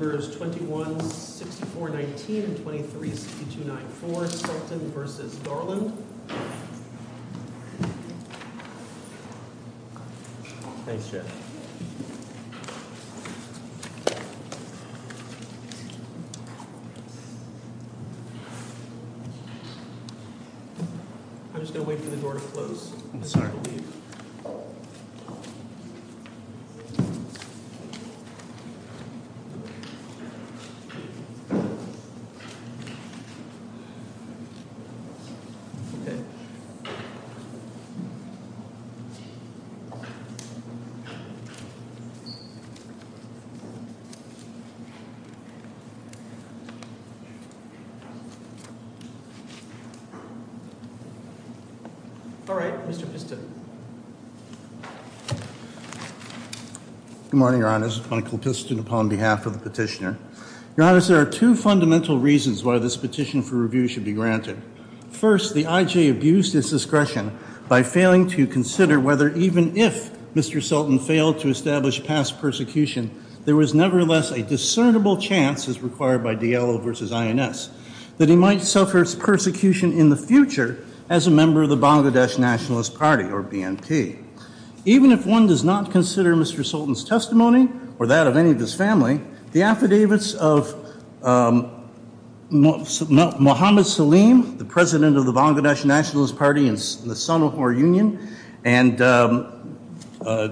21-64-19 and 23-62-94 Sulton v. Garland Ok. Alright. Mr. Piston. Good morning, your honors. Michael Piston upon behalf of the petitioner. Your honors, there are two fundamental reasons why this petition for review should be granted. First, the IJ abused his discretion by failing to consider whether, even if Mr. Sultan failed to establish past persecution, there was nevertheless a discernible chance, as required by DLO versus INS, that he might suffer persecution in the future as a member of the Bangladesh Nationalist Party, or BNP. Even if one does not consider Mr. Sultan's testimony, or that of any of his family, the affidavits of Muhammad Salim, the president of the Bangladesh Nationalist Party and the son of our union, and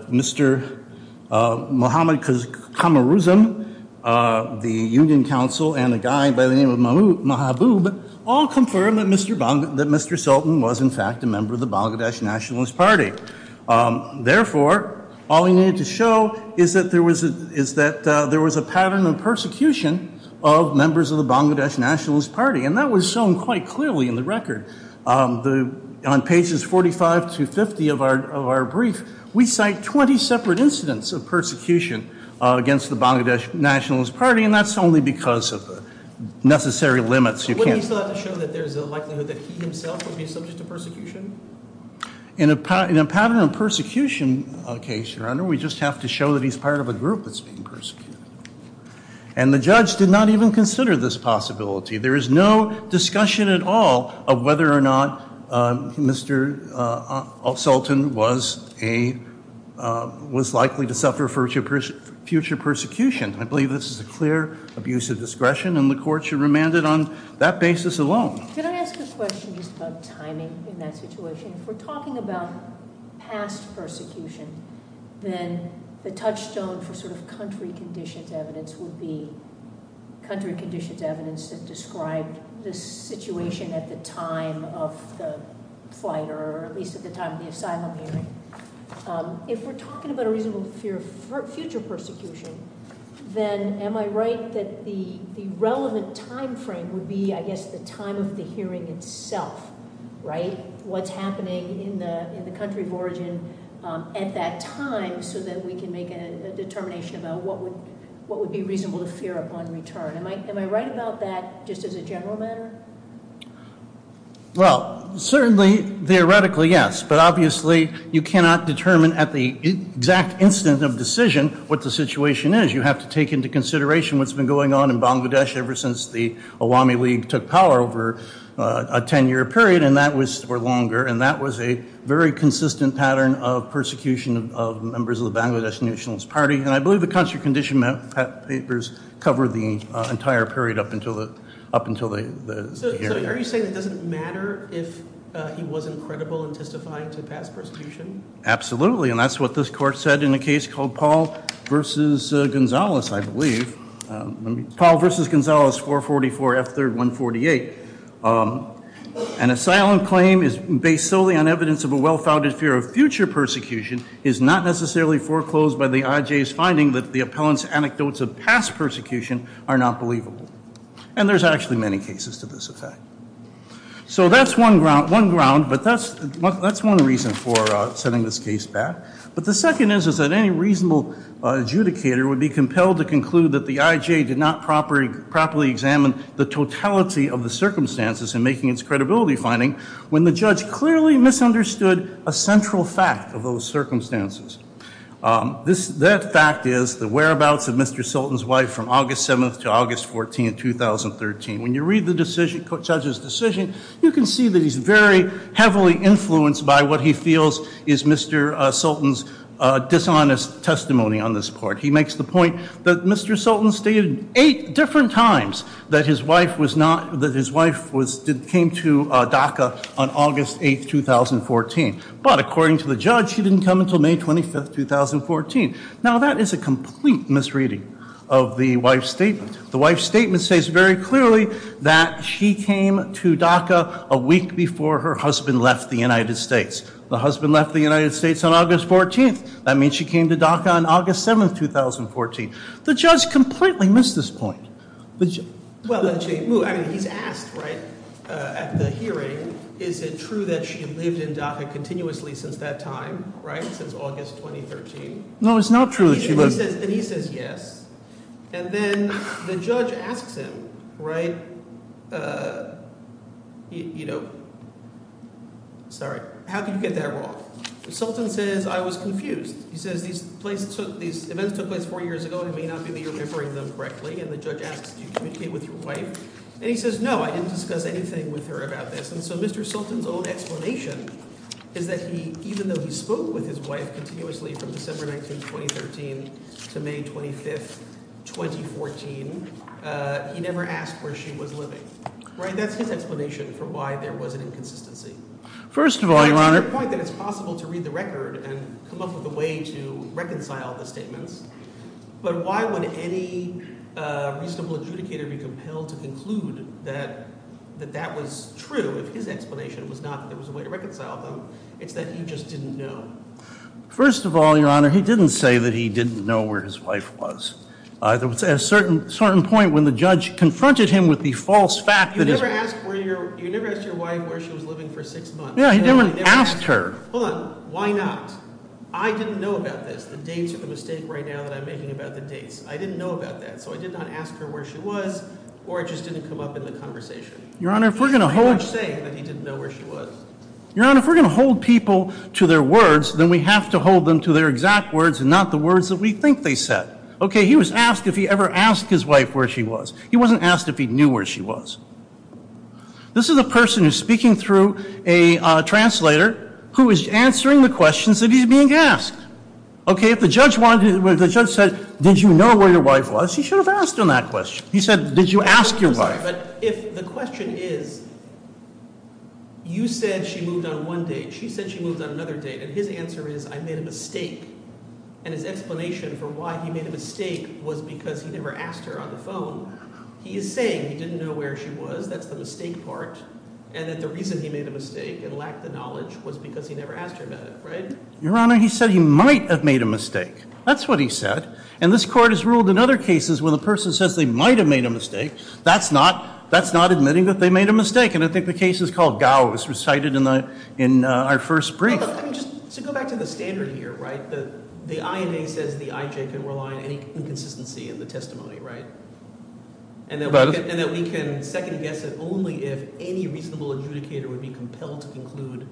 Mr. Muhammad Khamaruzm, the union council, and a guy by the name of Mahabub, all confirm that Mr. Sultan was in fact a member of the Bangladesh Nationalist Party. Therefore, all we need to show is that there was a pattern of persecution of members of the Bangladesh Nationalist Party. And that was shown quite clearly in the record. On pages 45 to 50 of our brief, we cite 20 separate incidents of persecution against the Bangladesh Nationalist Party, and that's only because of the necessary limits. Wouldn't he still have to show that there's a likelihood that he himself would be subject to persecution? In a pattern of persecution case, your honor, we just have to show that he's part of a group that's being persecuted. And the judge did not even consider this possibility. There is no discussion at all of whether or not Mr. Sultan was likely to suffer future persecution. I believe this is a clear abuse of discretion and the court should remand it on that basis alone. Can I ask a question just about timing in that situation? If we're talking about past persecution, then the touchstone for sort of country conditions evidence would be country conditions evidence that described the situation at the time of the flight, or at least at the time of the asylum hearing. If we're talking about a reasonable fear of future persecution, then am I right that the relevant time frame would be, I guess, the time of the hearing itself, right? What's happening in the country of origin at that time so that we can make a determination about what would be reasonable to fear upon return? Am I right about that just as a general matter? Well, certainly, theoretically, yes. But obviously, you cannot determine at the exact instant of decision what the situation is. You have to take into consideration what's been going on in Bangladesh ever since the Awami League took power over a 10-year period. And that was for longer. And that was a very consistent pattern of persecution of members of the Bangladesh Nationalist Party. And I believe the country condition papers cover the entire period up until the hearing. So are you saying it doesn't matter if he wasn't credible in testifying to past persecution? Absolutely. And that's what this court said in a case called Paul v. Gonzales, I believe. Paul v. Gonzales, 444 F. 3rd 148. An asylum claim based solely on evidence of a well-founded fear of future persecution is not necessarily foreclosed by the IJ's finding that the appellant's anecdotes of past persecution are not believable. And there's actually many cases to this effect. So that's one ground. But that's one reason for sending this case back. But the second is that any reasonable adjudicator would be compelled to conclude that the IJ did not properly examine the totality of the circumstances in making its credibility finding when the judge clearly misunderstood a central fact of those circumstances. That fact is the whereabouts of Mr. Sultan's wife from August 7th to August 14th, 2013. When you read the judge's decision, you can see that he's very heavily influenced by what he feels is Mr. Sultan's dishonest testimony on this court. He makes the point that Mr. Sultan stated eight different times that his wife came to DACA on August 8th, 2014. But according to the judge, she didn't come until May 25th, 2014. Now that is a complete misreading of the wife's statement. The wife's statement states very clearly that she came to DACA a week before her husband left the United States. The husband left the United States on August 14th. That means she came to DACA on August 7th, 2014. The judge completely missed this point. Well, I mean, he's asked, right, at the hearing, is it true that she lived in DACA continuously since that time, right, since August 2013? No, it's not true that she lived. And he says yes, and then the judge asks him, right – sorry, how can you get that wrong? Sultan says, I was confused. He says these events took place four years ago. It may not be that you're referring to them correctly, and the judge asks, did you communicate with your wife? And he says, no, I didn't discuss anything with her about this. And so Mr. Sultan's own explanation is that he – even though he spoke with his wife continuously from December 19th, 2013 to May 25th, 2014, he never asked where she was living, right? That's his explanation for why there was an inconsistency. First of all, Your Honor – And I take the point that it's possible to read the record and come up with a way to reconcile the statements. But why would any reasonable adjudicator be compelled to conclude that that was true if his explanation was not that there was a way to reconcile them? It's that he just didn't know. First of all, Your Honor, he didn't say that he didn't know where his wife was. There was a certain point when the judge confronted him with the false fact that – You never asked your wife where she was living for six months. Yeah, he never asked her. Hold on. Why not? I didn't know about this. The dates are the mistake right now that I'm making about the dates. I didn't know about that, so I did not ask her where she was, or it just didn't come up in the conversation. Your Honor, if we're going to hold – He's not saying that he didn't know where she was. Your Honor, if we're going to hold people to their words, then we have to hold them to their exact words and not the words that we think they said. Okay, he was asked if he ever asked his wife where she was. He wasn't asked if he knew where she was. This is a person who's speaking through a translator who is answering the questions that he's being asked. Okay, if the judge said, did you know where your wife was? He should have asked him that question. He said, did you ask your wife? But if the question is, you said she moved on one date. She said she moved on another date, and his answer is, I made a mistake. And his explanation for why he made a mistake was because he never asked her on the phone. He is saying he didn't know where she was. That's the mistake part. And that the reason he made a mistake and lacked the knowledge was because he never asked her about it, right? Your Honor, he said he might have made a mistake. That's what he said. And this Court has ruled in other cases where the person says they might have made a mistake. That's not admitting that they made a mistake. And I think the case is called Gao. It was recited in our first brief. So go back to the standard here, right? The INA says the IJ can rely on any inconsistency in the testimony, right? And that we can second guess it only if any reasonable adjudicator would be compelled to conclude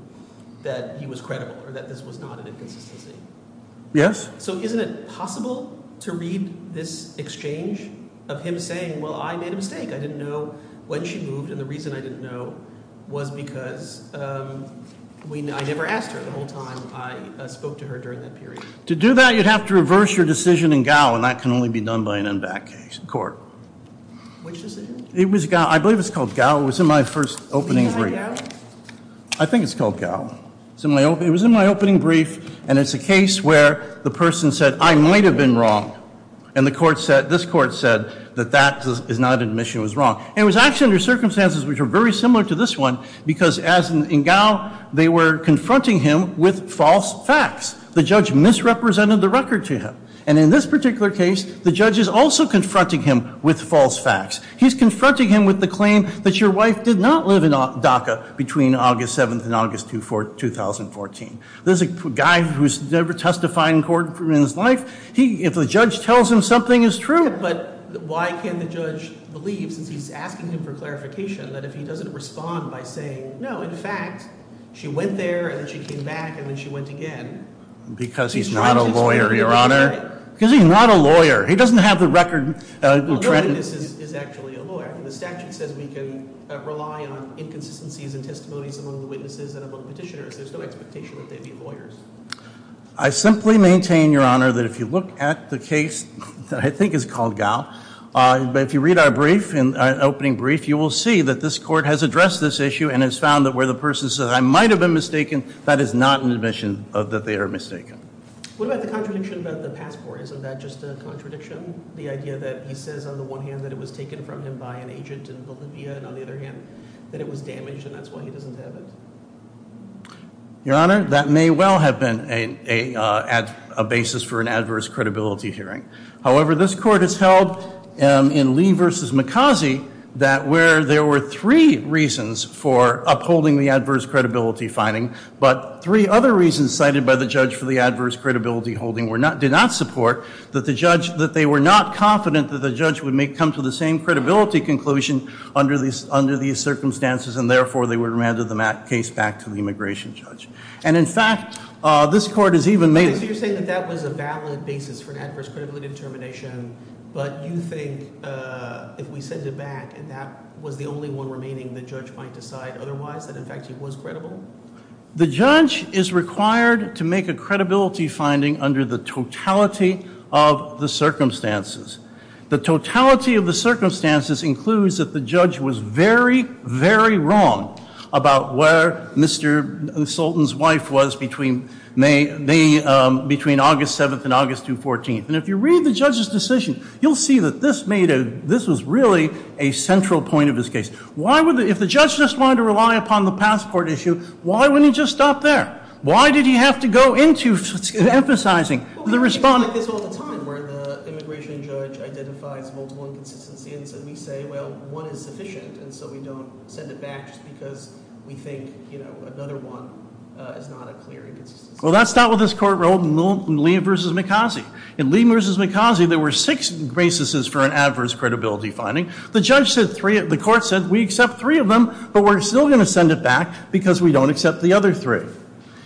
that he was credible or that this was not an inconsistency. Yes. So isn't it possible to read this exchange of him saying, well, I made a mistake. I didn't know when she moved, and the reason I didn't know was because I never asked her the whole time I spoke to her during that period. To do that, you'd have to reverse your decision in Gao, and that can only be done by an NVAC case. Which decision? It was Gao. I believe it's called Gao. It was in my first opening brief. Is it Gao? I think it's called Gao. It was in my opening brief, and it's a case where the person said, I might have been wrong. And this Court said that that is not an admission it was wrong. And it was actually under circumstances which were very similar to this one because in Gao, they were confronting him with false facts. The judge misrepresented the record to him. And in this particular case, the judge is also confronting him with false facts. He's confronting him with the claim that your wife did not live in DACA between August 7th and August 2014. This is a guy who's never testified in court in his life. If the judge tells him something is true. But why can't the judge believe since he's asking him for clarification that if he doesn't respond by saying, no, in fact, she went there and then she came back and then she went again. Because he's not a lawyer, Your Honor. Because he's not a lawyer. He doesn't have the record. No witness is actually a lawyer. The statute says we can rely on inconsistencies in testimonies among the witnesses and among petitioners. There's no expectation that they'd be lawyers. I simply maintain, Your Honor, that if you look at the case that I think is called Gao. But if you read our brief, our opening brief, you will see that this court has addressed this issue and has found that where the person says I might have been mistaken, that is not an admission that they are mistaken. What about the contradiction about the passport? Isn't that just a contradiction? The idea that he says on the one hand that it was taken from him by an agent in Bolivia and on the other hand that it was damaged and that's why he doesn't have it. Your Honor, that may well have been a basis for an adverse credibility hearing. However, this court has held in Lee v. McCausey that where there were three reasons for upholding the adverse credibility finding, but three other reasons cited by the judge for the adverse credibility holding did not support that the judge, that they were not confident that the judge would come to the same credibility conclusion under these circumstances and therefore they would remand the case back to the immigration judge. And in fact, this court has even made it. That was a valid basis for an adverse credibility determination. But you think if we send it back and that was the only one remaining, the judge might decide otherwise, that in fact he was credible? The judge is required to make a credibility finding under the totality of the circumstances. The totality of the circumstances includes that the judge was very, very wrong about where Mr. Sultan's wife was between August 7th and August 2, 14th. And if you read the judge's decision, you'll see that this was really a central point of his case. If the judge just wanted to rely upon the passport issue, why wouldn't he just stop there? Why did he have to go into emphasizing the respondent? I get this all the time where the immigration judge identifies multiple inconsistencies and we say, well, one is sufficient. And so we don't send it back just because we think, you know, another one is not a clear inconsistency. Well, that's not what this court ruled in Lee v. Mikhazy. In Lee v. Mikhazy, there were six basis for an adverse credibility finding. The judge said three, the court said we accept three of them, but we're still going to send it back because we don't accept the other three.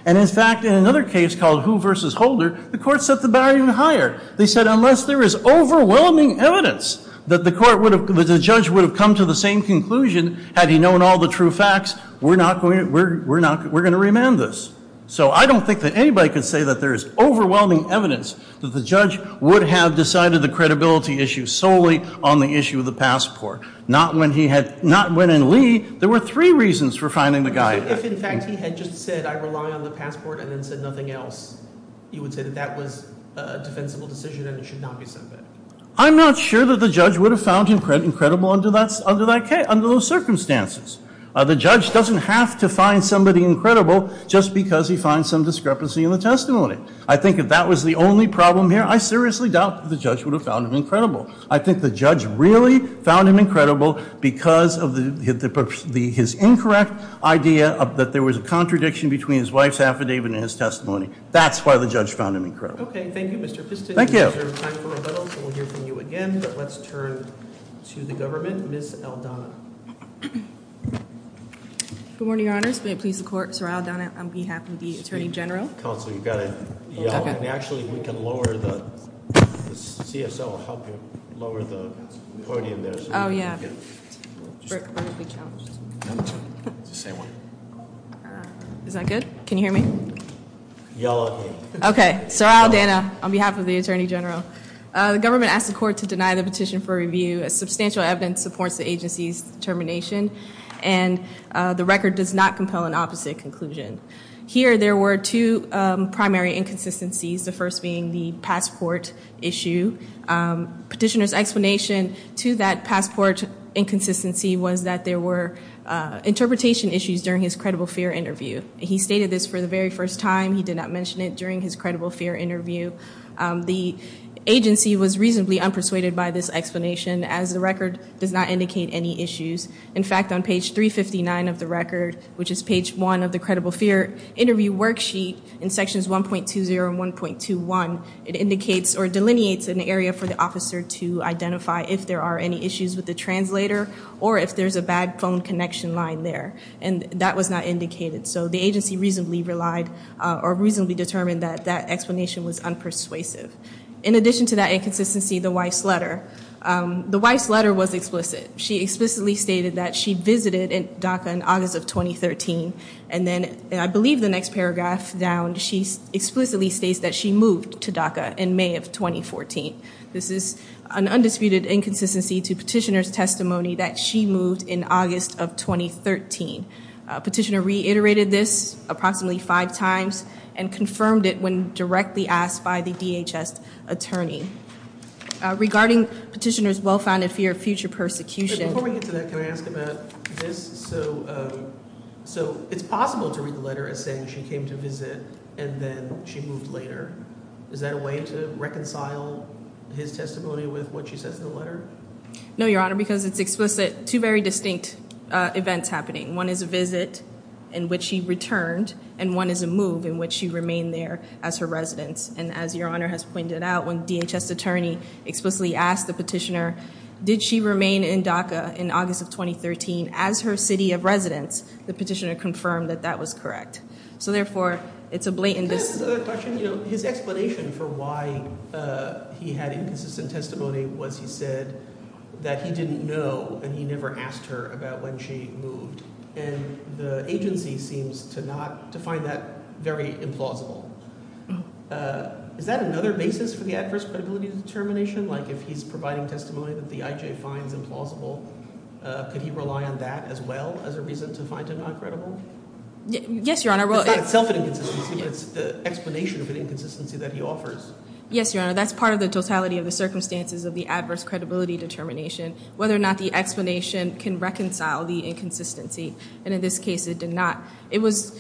And in fact, in another case called Hu v. Holder, the court set the bar even higher. They said unless there is overwhelming evidence that the court would have, that the judge would have come to the same conclusion, had he known all the true facts, we're not going to, we're not, we're going to remand this. So I don't think that anybody could say that there is overwhelming evidence that the judge would have decided the credibility issue solely on the issue of the passport. Not when he had, not when in Lee, there were three reasons for finding the guy. If in fact he had just said I rely on the passport and then said nothing else, you would say that that was a defensible decision and it should not be sent back. I'm not sure that the judge would have found him credible under that, under that case, under those circumstances. The judge doesn't have to find somebody incredible just because he finds some discrepancy in the testimony. I think if that was the only problem here, I seriously doubt that the judge would have found him incredible. I think the judge really found him incredible because of his incorrect idea that there was a contradiction between his wife's affidavit and his testimony. That's why the judge found him incredible. Okay, thank you, Mr. Piston. Thank you. We'll hear from you again, but let's turn to the government. Ms. Aldana. Good morning, your honors. May it please the court, Sir Aldana on behalf of the Attorney General. Counsel, you've got to yell. Okay. I mean, actually, we can lower the, the CSO will help you lower the podium there. Yeah. Is that good? Can you hear me? Yell at me. Okay. Sir Aldana on behalf of the Attorney General. The government asked the court to deny the petition for review as substantial evidence supports the agency's determination, and the record does not compel an opposite conclusion. Here, there were two primary inconsistencies, the first being the passport issue. Petitioner's explanation to that passport inconsistency was that there were interpretation issues during his credible fear interview. He stated this for the very first time. He did not mention it during his credible fear interview. The agency was reasonably unpersuaded by this explanation, as the record does not indicate any issues. In fact, on page 359 of the record, which is page one of the credible fear interview worksheet in sections 1.20 and 1.21, it indicates or delineates an area for the officer to identify if there are any issues with the translator or if there's a bad phone connection line there, and that was not indicated. So the agency reasonably relied or reasonably determined that that explanation was unpersuasive. In addition to that inconsistency, the Weiss letter. The Weiss letter was explicit. She explicitly stated that she visited DACA in August of 2013, and then I believe the next paragraph down, she explicitly states that she moved to DACA in May of 2014. This is an undisputed inconsistency to petitioner's testimony that she moved in August of 2013. Petitioner reiterated this approximately five times and confirmed it when directly asked by the DHS attorney. Regarding petitioner's well-founded fear of future persecution. Before we get to that, can I ask about this? So it's possible to read the letter as saying she came to visit and then she moved later. Is that a way to reconcile his testimony with what she says in the letter? No, Your Honor, because it's explicit. Two very distinct events happening. One is a visit in which she returned, and one is a move in which she remained there as her residence. And as Your Honor has pointed out, when DHS attorney explicitly asked the petitioner, did she remain in DACA in August of 2013 as her city of residence, the petitioner confirmed that that was correct. So therefore, it's a blatant mis- Can I ask another question? His explanation for why he had inconsistent testimony was he said that he didn't know and he never asked her about when she moved. And the agency seems to not – to find that very implausible. Is that another basis for the adverse credibility determination? Like if he's providing testimony that the IJ finds implausible, could he rely on that as well as a reason to find it not credible? Yes, Your Honor. It's not itself an inconsistency, but it's the explanation of an inconsistency that he offers. Yes, Your Honor. That's part of the totality of the circumstances of the adverse credibility determination, whether or not the explanation can reconcile the inconsistency. And in this case, it did not. It's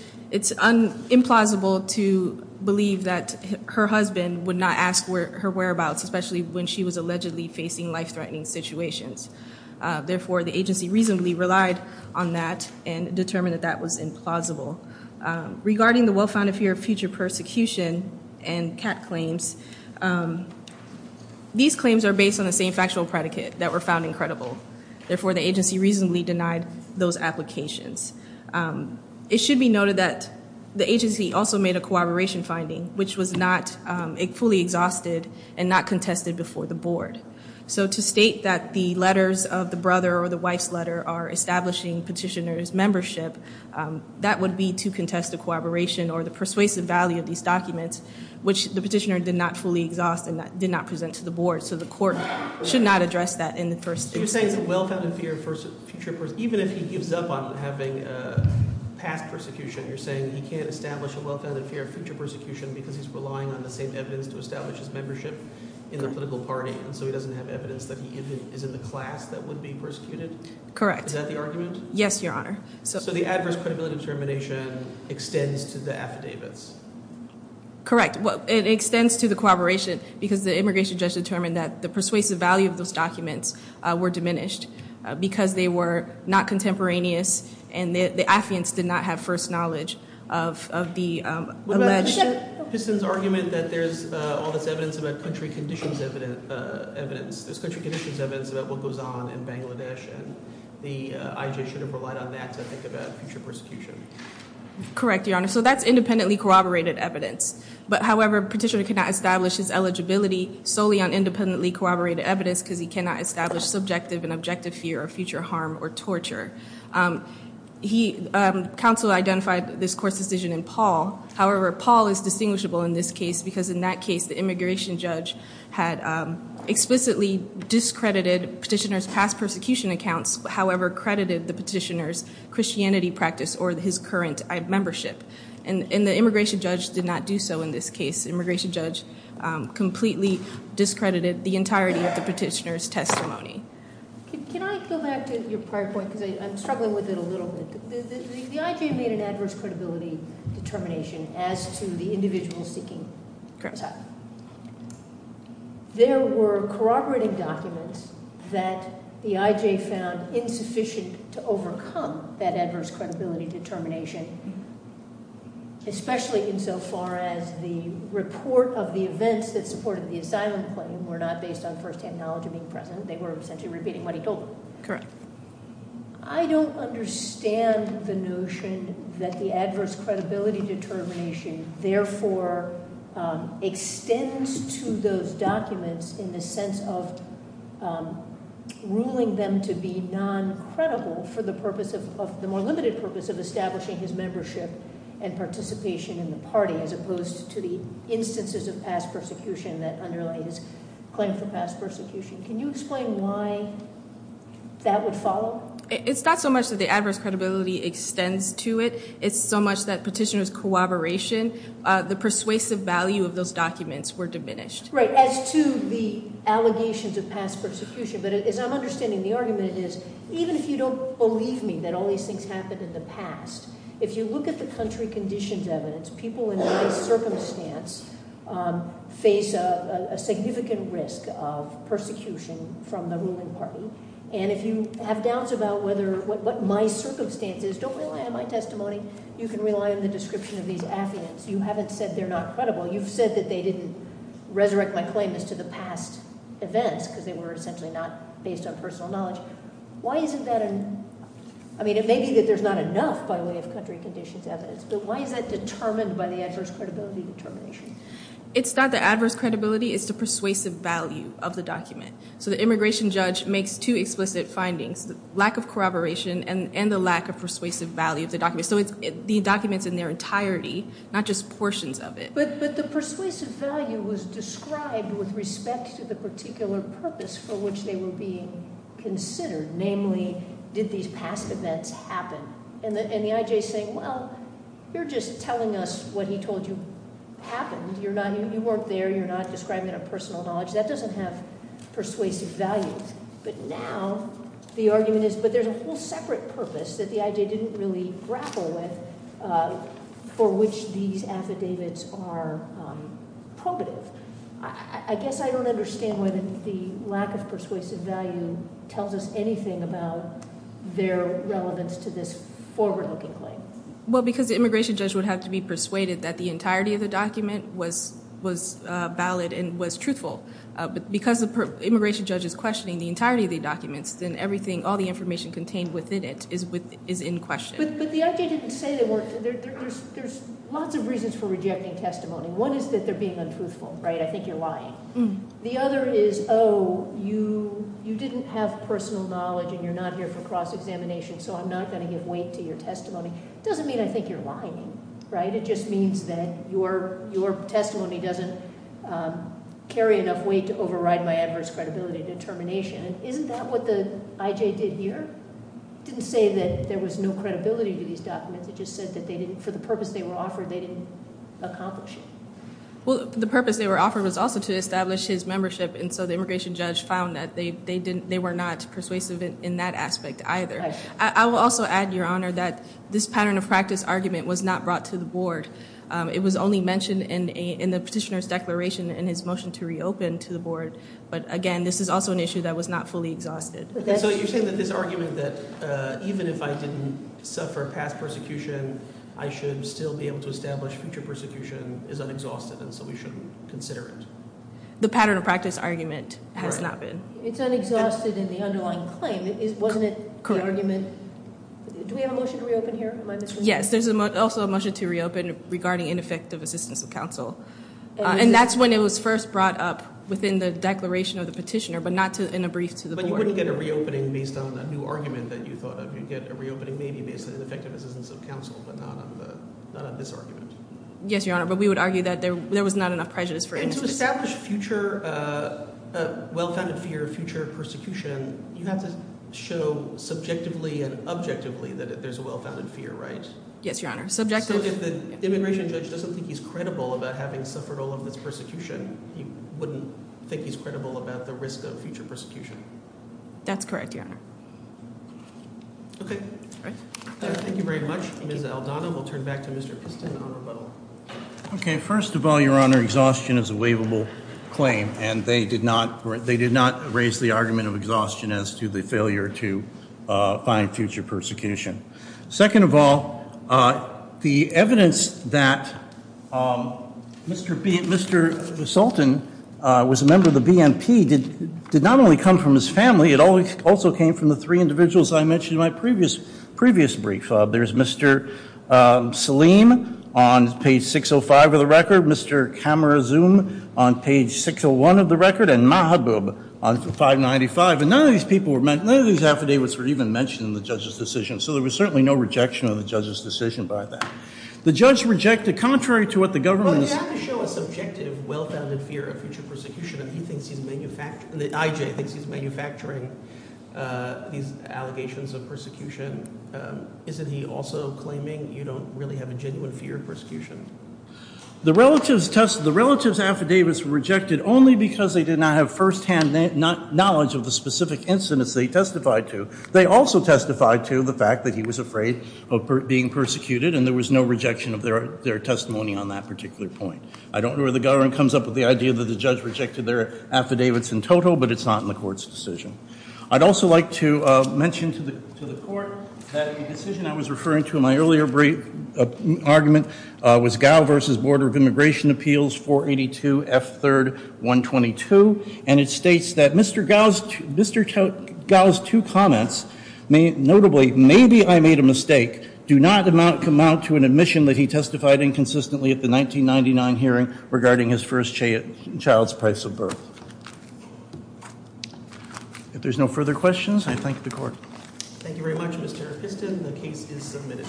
implausible to believe that her husband would not ask her whereabouts, especially when she was allegedly facing life-threatening situations. Therefore, the agency reasonably relied on that and determined that that was implausible. Regarding the well-founded fear of future persecution and cat claims, these claims are based on the same factual predicate that were found incredible. Therefore, the agency reasonably denied those applications. It should be noted that the agency also made a corroboration finding, which was not fully exhausted and not contested before the board. So to state that the letters of the brother or the wife's letter are establishing petitioner's membership, that would be to contest the corroboration or the persuasive value of these documents, which the petitioner did not fully exhaust and did not present to the board. So the court should not address that in the first instance. You're saying it's a well-founded fear of future persecution. Even if he gives up on having past persecution, you're saying he can't establish a well-founded fear of future persecution because he's relying on the same evidence to establish his membership in the political party, and so he doesn't have evidence that he even is in the class that would be persecuted? Correct. Is that the argument? Yes, Your Honor. So the adverse credibility determination extends to the affidavits? Correct. It extends to the corroboration because the immigration judge determined that the persuasive value of those documents were diminished because they were not contemporaneous and the affidavits did not have first knowledge of the alleged. But Piston's argument that there's all this evidence about country conditions evidence, there's country conditions evidence about what goes on in Bangladesh, and the IJ should have relied on that to think about future persecution. Correct, Your Honor. So that's independently corroborated evidence. But, however, Petitioner cannot establish his eligibility solely on independently corroborated evidence because he cannot establish subjective and objective fear of future harm or torture. Counsel identified this court's decision in Paul. However, Paul is distinguishable in this case because in that case the immigration judge had explicitly discredited Petitioner's past persecution accounts, however credited the Petitioner's Christianity practice or his current membership. And the immigration judge did not do so in this case. The immigration judge completely discredited the entirety of the Petitioner's testimony. Can I go back to your prior point? Because I'm struggling with it a little bit. The IJ made an adverse credibility determination as to the individual seeking. Correct. There were corroborating documents that the IJ found insufficient to overcome that adverse credibility determination, especially insofar as the report of the events that supported the asylum claim were not based on firsthand knowledge of being present. They were essentially repeating what he told them. Correct. I don't understand the notion that the adverse credibility determination, therefore, extends to those documents in the sense of ruling them to be non-credible for the more limited purpose of establishing his membership and participation in the party as opposed to the instances of past persecution that underlie his claim for past persecution. Can you explain why that would follow? It's not so much that the adverse credibility extends to it. It's so much that Petitioner's corroboration, the persuasive value of those documents were diminished. Right, as to the allegations of past persecution. But as I'm understanding the argument is, even if you don't believe me that all these things happened in the past, if you look at the country conditions evidence, people in my circumstance face a significant risk of persecution from the ruling party. And if you have doubts about what my circumstance is, don't rely on my testimony. You can rely on the description of these affidavits. You haven't said they're not credible. You've said that they didn't resurrect my claim as to the past events because they were essentially not based on personal knowledge. Why isn't that an – I mean, it may be that there's not enough by way of country conditions evidence, but why is that determined by the adverse credibility determination? It's not the adverse credibility. It's the persuasive value of the document. So the immigration judge makes two explicit findings, the lack of corroboration and the lack of persuasive value of the document. So the document's in their entirety, not just portions of it. But the persuasive value was described with respect to the particular purpose for which they were being considered, namely, did these past events happen? And the I.J. is saying, well, you're just telling us what he told you happened. You weren't there. You're not describing it in personal knowledge. That doesn't have persuasive value. But now the argument is, but there's a whole separate purpose that the I.J. didn't really grapple with for which these affidavits are probative. I guess I don't understand why the lack of persuasive value tells us anything about their relevance to this forward-looking claim. Well, because the immigration judge would have to be persuaded that the entirety of the document was valid and was truthful. But because the immigration judge is questioning the entirety of the documents, then everything, all the information contained within it is in question. But the I.J. didn't say they weren't. There's lots of reasons for rejecting testimony. One is that they're being untruthful, right? I think you're lying. The other is, oh, you didn't have personal knowledge and you're not here for cross-examination, so I'm not going to give weight to your testimony. It doesn't mean I think you're lying, right? It just means that your testimony doesn't carry enough weight to override my adverse credibility determination. Isn't that what the I.J. did here? It didn't say that there was no credibility to these documents. It just said that for the purpose they were offered, they didn't accomplish it. Well, the purpose they were offered was also to establish his membership, and so the immigration judge found that they were not persuasive in that aspect either. I will also add, Your Honor, that this pattern of practice argument was not brought to the board. It was only mentioned in the petitioner's declaration in his motion to reopen to the board. But, again, this is also an issue that was not fully exhausted. So you're saying that this argument that even if I didn't suffer past persecution, I should still be able to establish future persecution is unexhausted and so we shouldn't consider it? The pattern of practice argument has not been. It's unexhausted in the underlying claim. Wasn't it the argument- Correct. Do we have a motion to reopen here? Yes, there's also a motion to reopen regarding ineffective assistance of counsel. And that's when it was first brought up within the declaration of the petitioner, but not in a brief to the board. But you wouldn't get a reopening based on a new argument that you thought of. You'd get a reopening maybe based on ineffective assistance of counsel, but not on this argument. Yes, Your Honor, but we would argue that there was not enough prejudice for- To establish future, well-founded fear of future persecution, you have to show subjectively and objectively that there's a well-founded fear, right? Yes, Your Honor. Subjective- So if the immigration judge doesn't think he's credible about having suffered all of this persecution, he wouldn't think he's credible about the risk of future persecution. That's correct, Your Honor. Okay. All right. Thank you very much. Ms. Aldana, we'll turn back to Mr. Piston on rebuttal. Okay. First of all, Your Honor, exhaustion is a waivable claim, and they did not raise the argument of exhaustion as to the failure to find future persecution. Second of all, the evidence that Mr. Sultan was a member of the BNP did not only come from his family. It also came from the three individuals I mentioned in my previous brief. There's Mr. Saleem on page 605 of the record, Mr. Kamarazum on page 601 of the record, and Mahabub on 595. And none of these people were mentioned, none of these affidavits were even mentioned in the judge's decision, so there was certainly no rejection of the judge's decision by that. The judge rejected, contrary to what the government- Well, you have to show a subjective, well-founded fear of future persecution. I.J. thinks he's manufacturing these allegations of persecution. Isn't he also claiming you don't really have a genuine fear of persecution? The relatives affidavits were rejected only because they did not have firsthand knowledge of the specific incidents they testified to. They also testified to the fact that he was afraid of being persecuted, and there was no rejection of their testimony on that particular point. I don't know where the government comes up with the idea that the judge rejected their affidavits in total, but it's not in the court's decision. I'd also like to mention to the court that the decision I was referring to in my earlier brief argument was Gao v. Board of Immigration Appeals, 482 F. 3rd. 122, and it states that Mr. Gao's two comments, notably, maybe I made a mistake, do not amount to an admission that he testified inconsistently at the 1999 hearing regarding his first child's price of birth. If there's no further questions, I thank the court. Thank you very much, Mr. Episton. The case is submitted.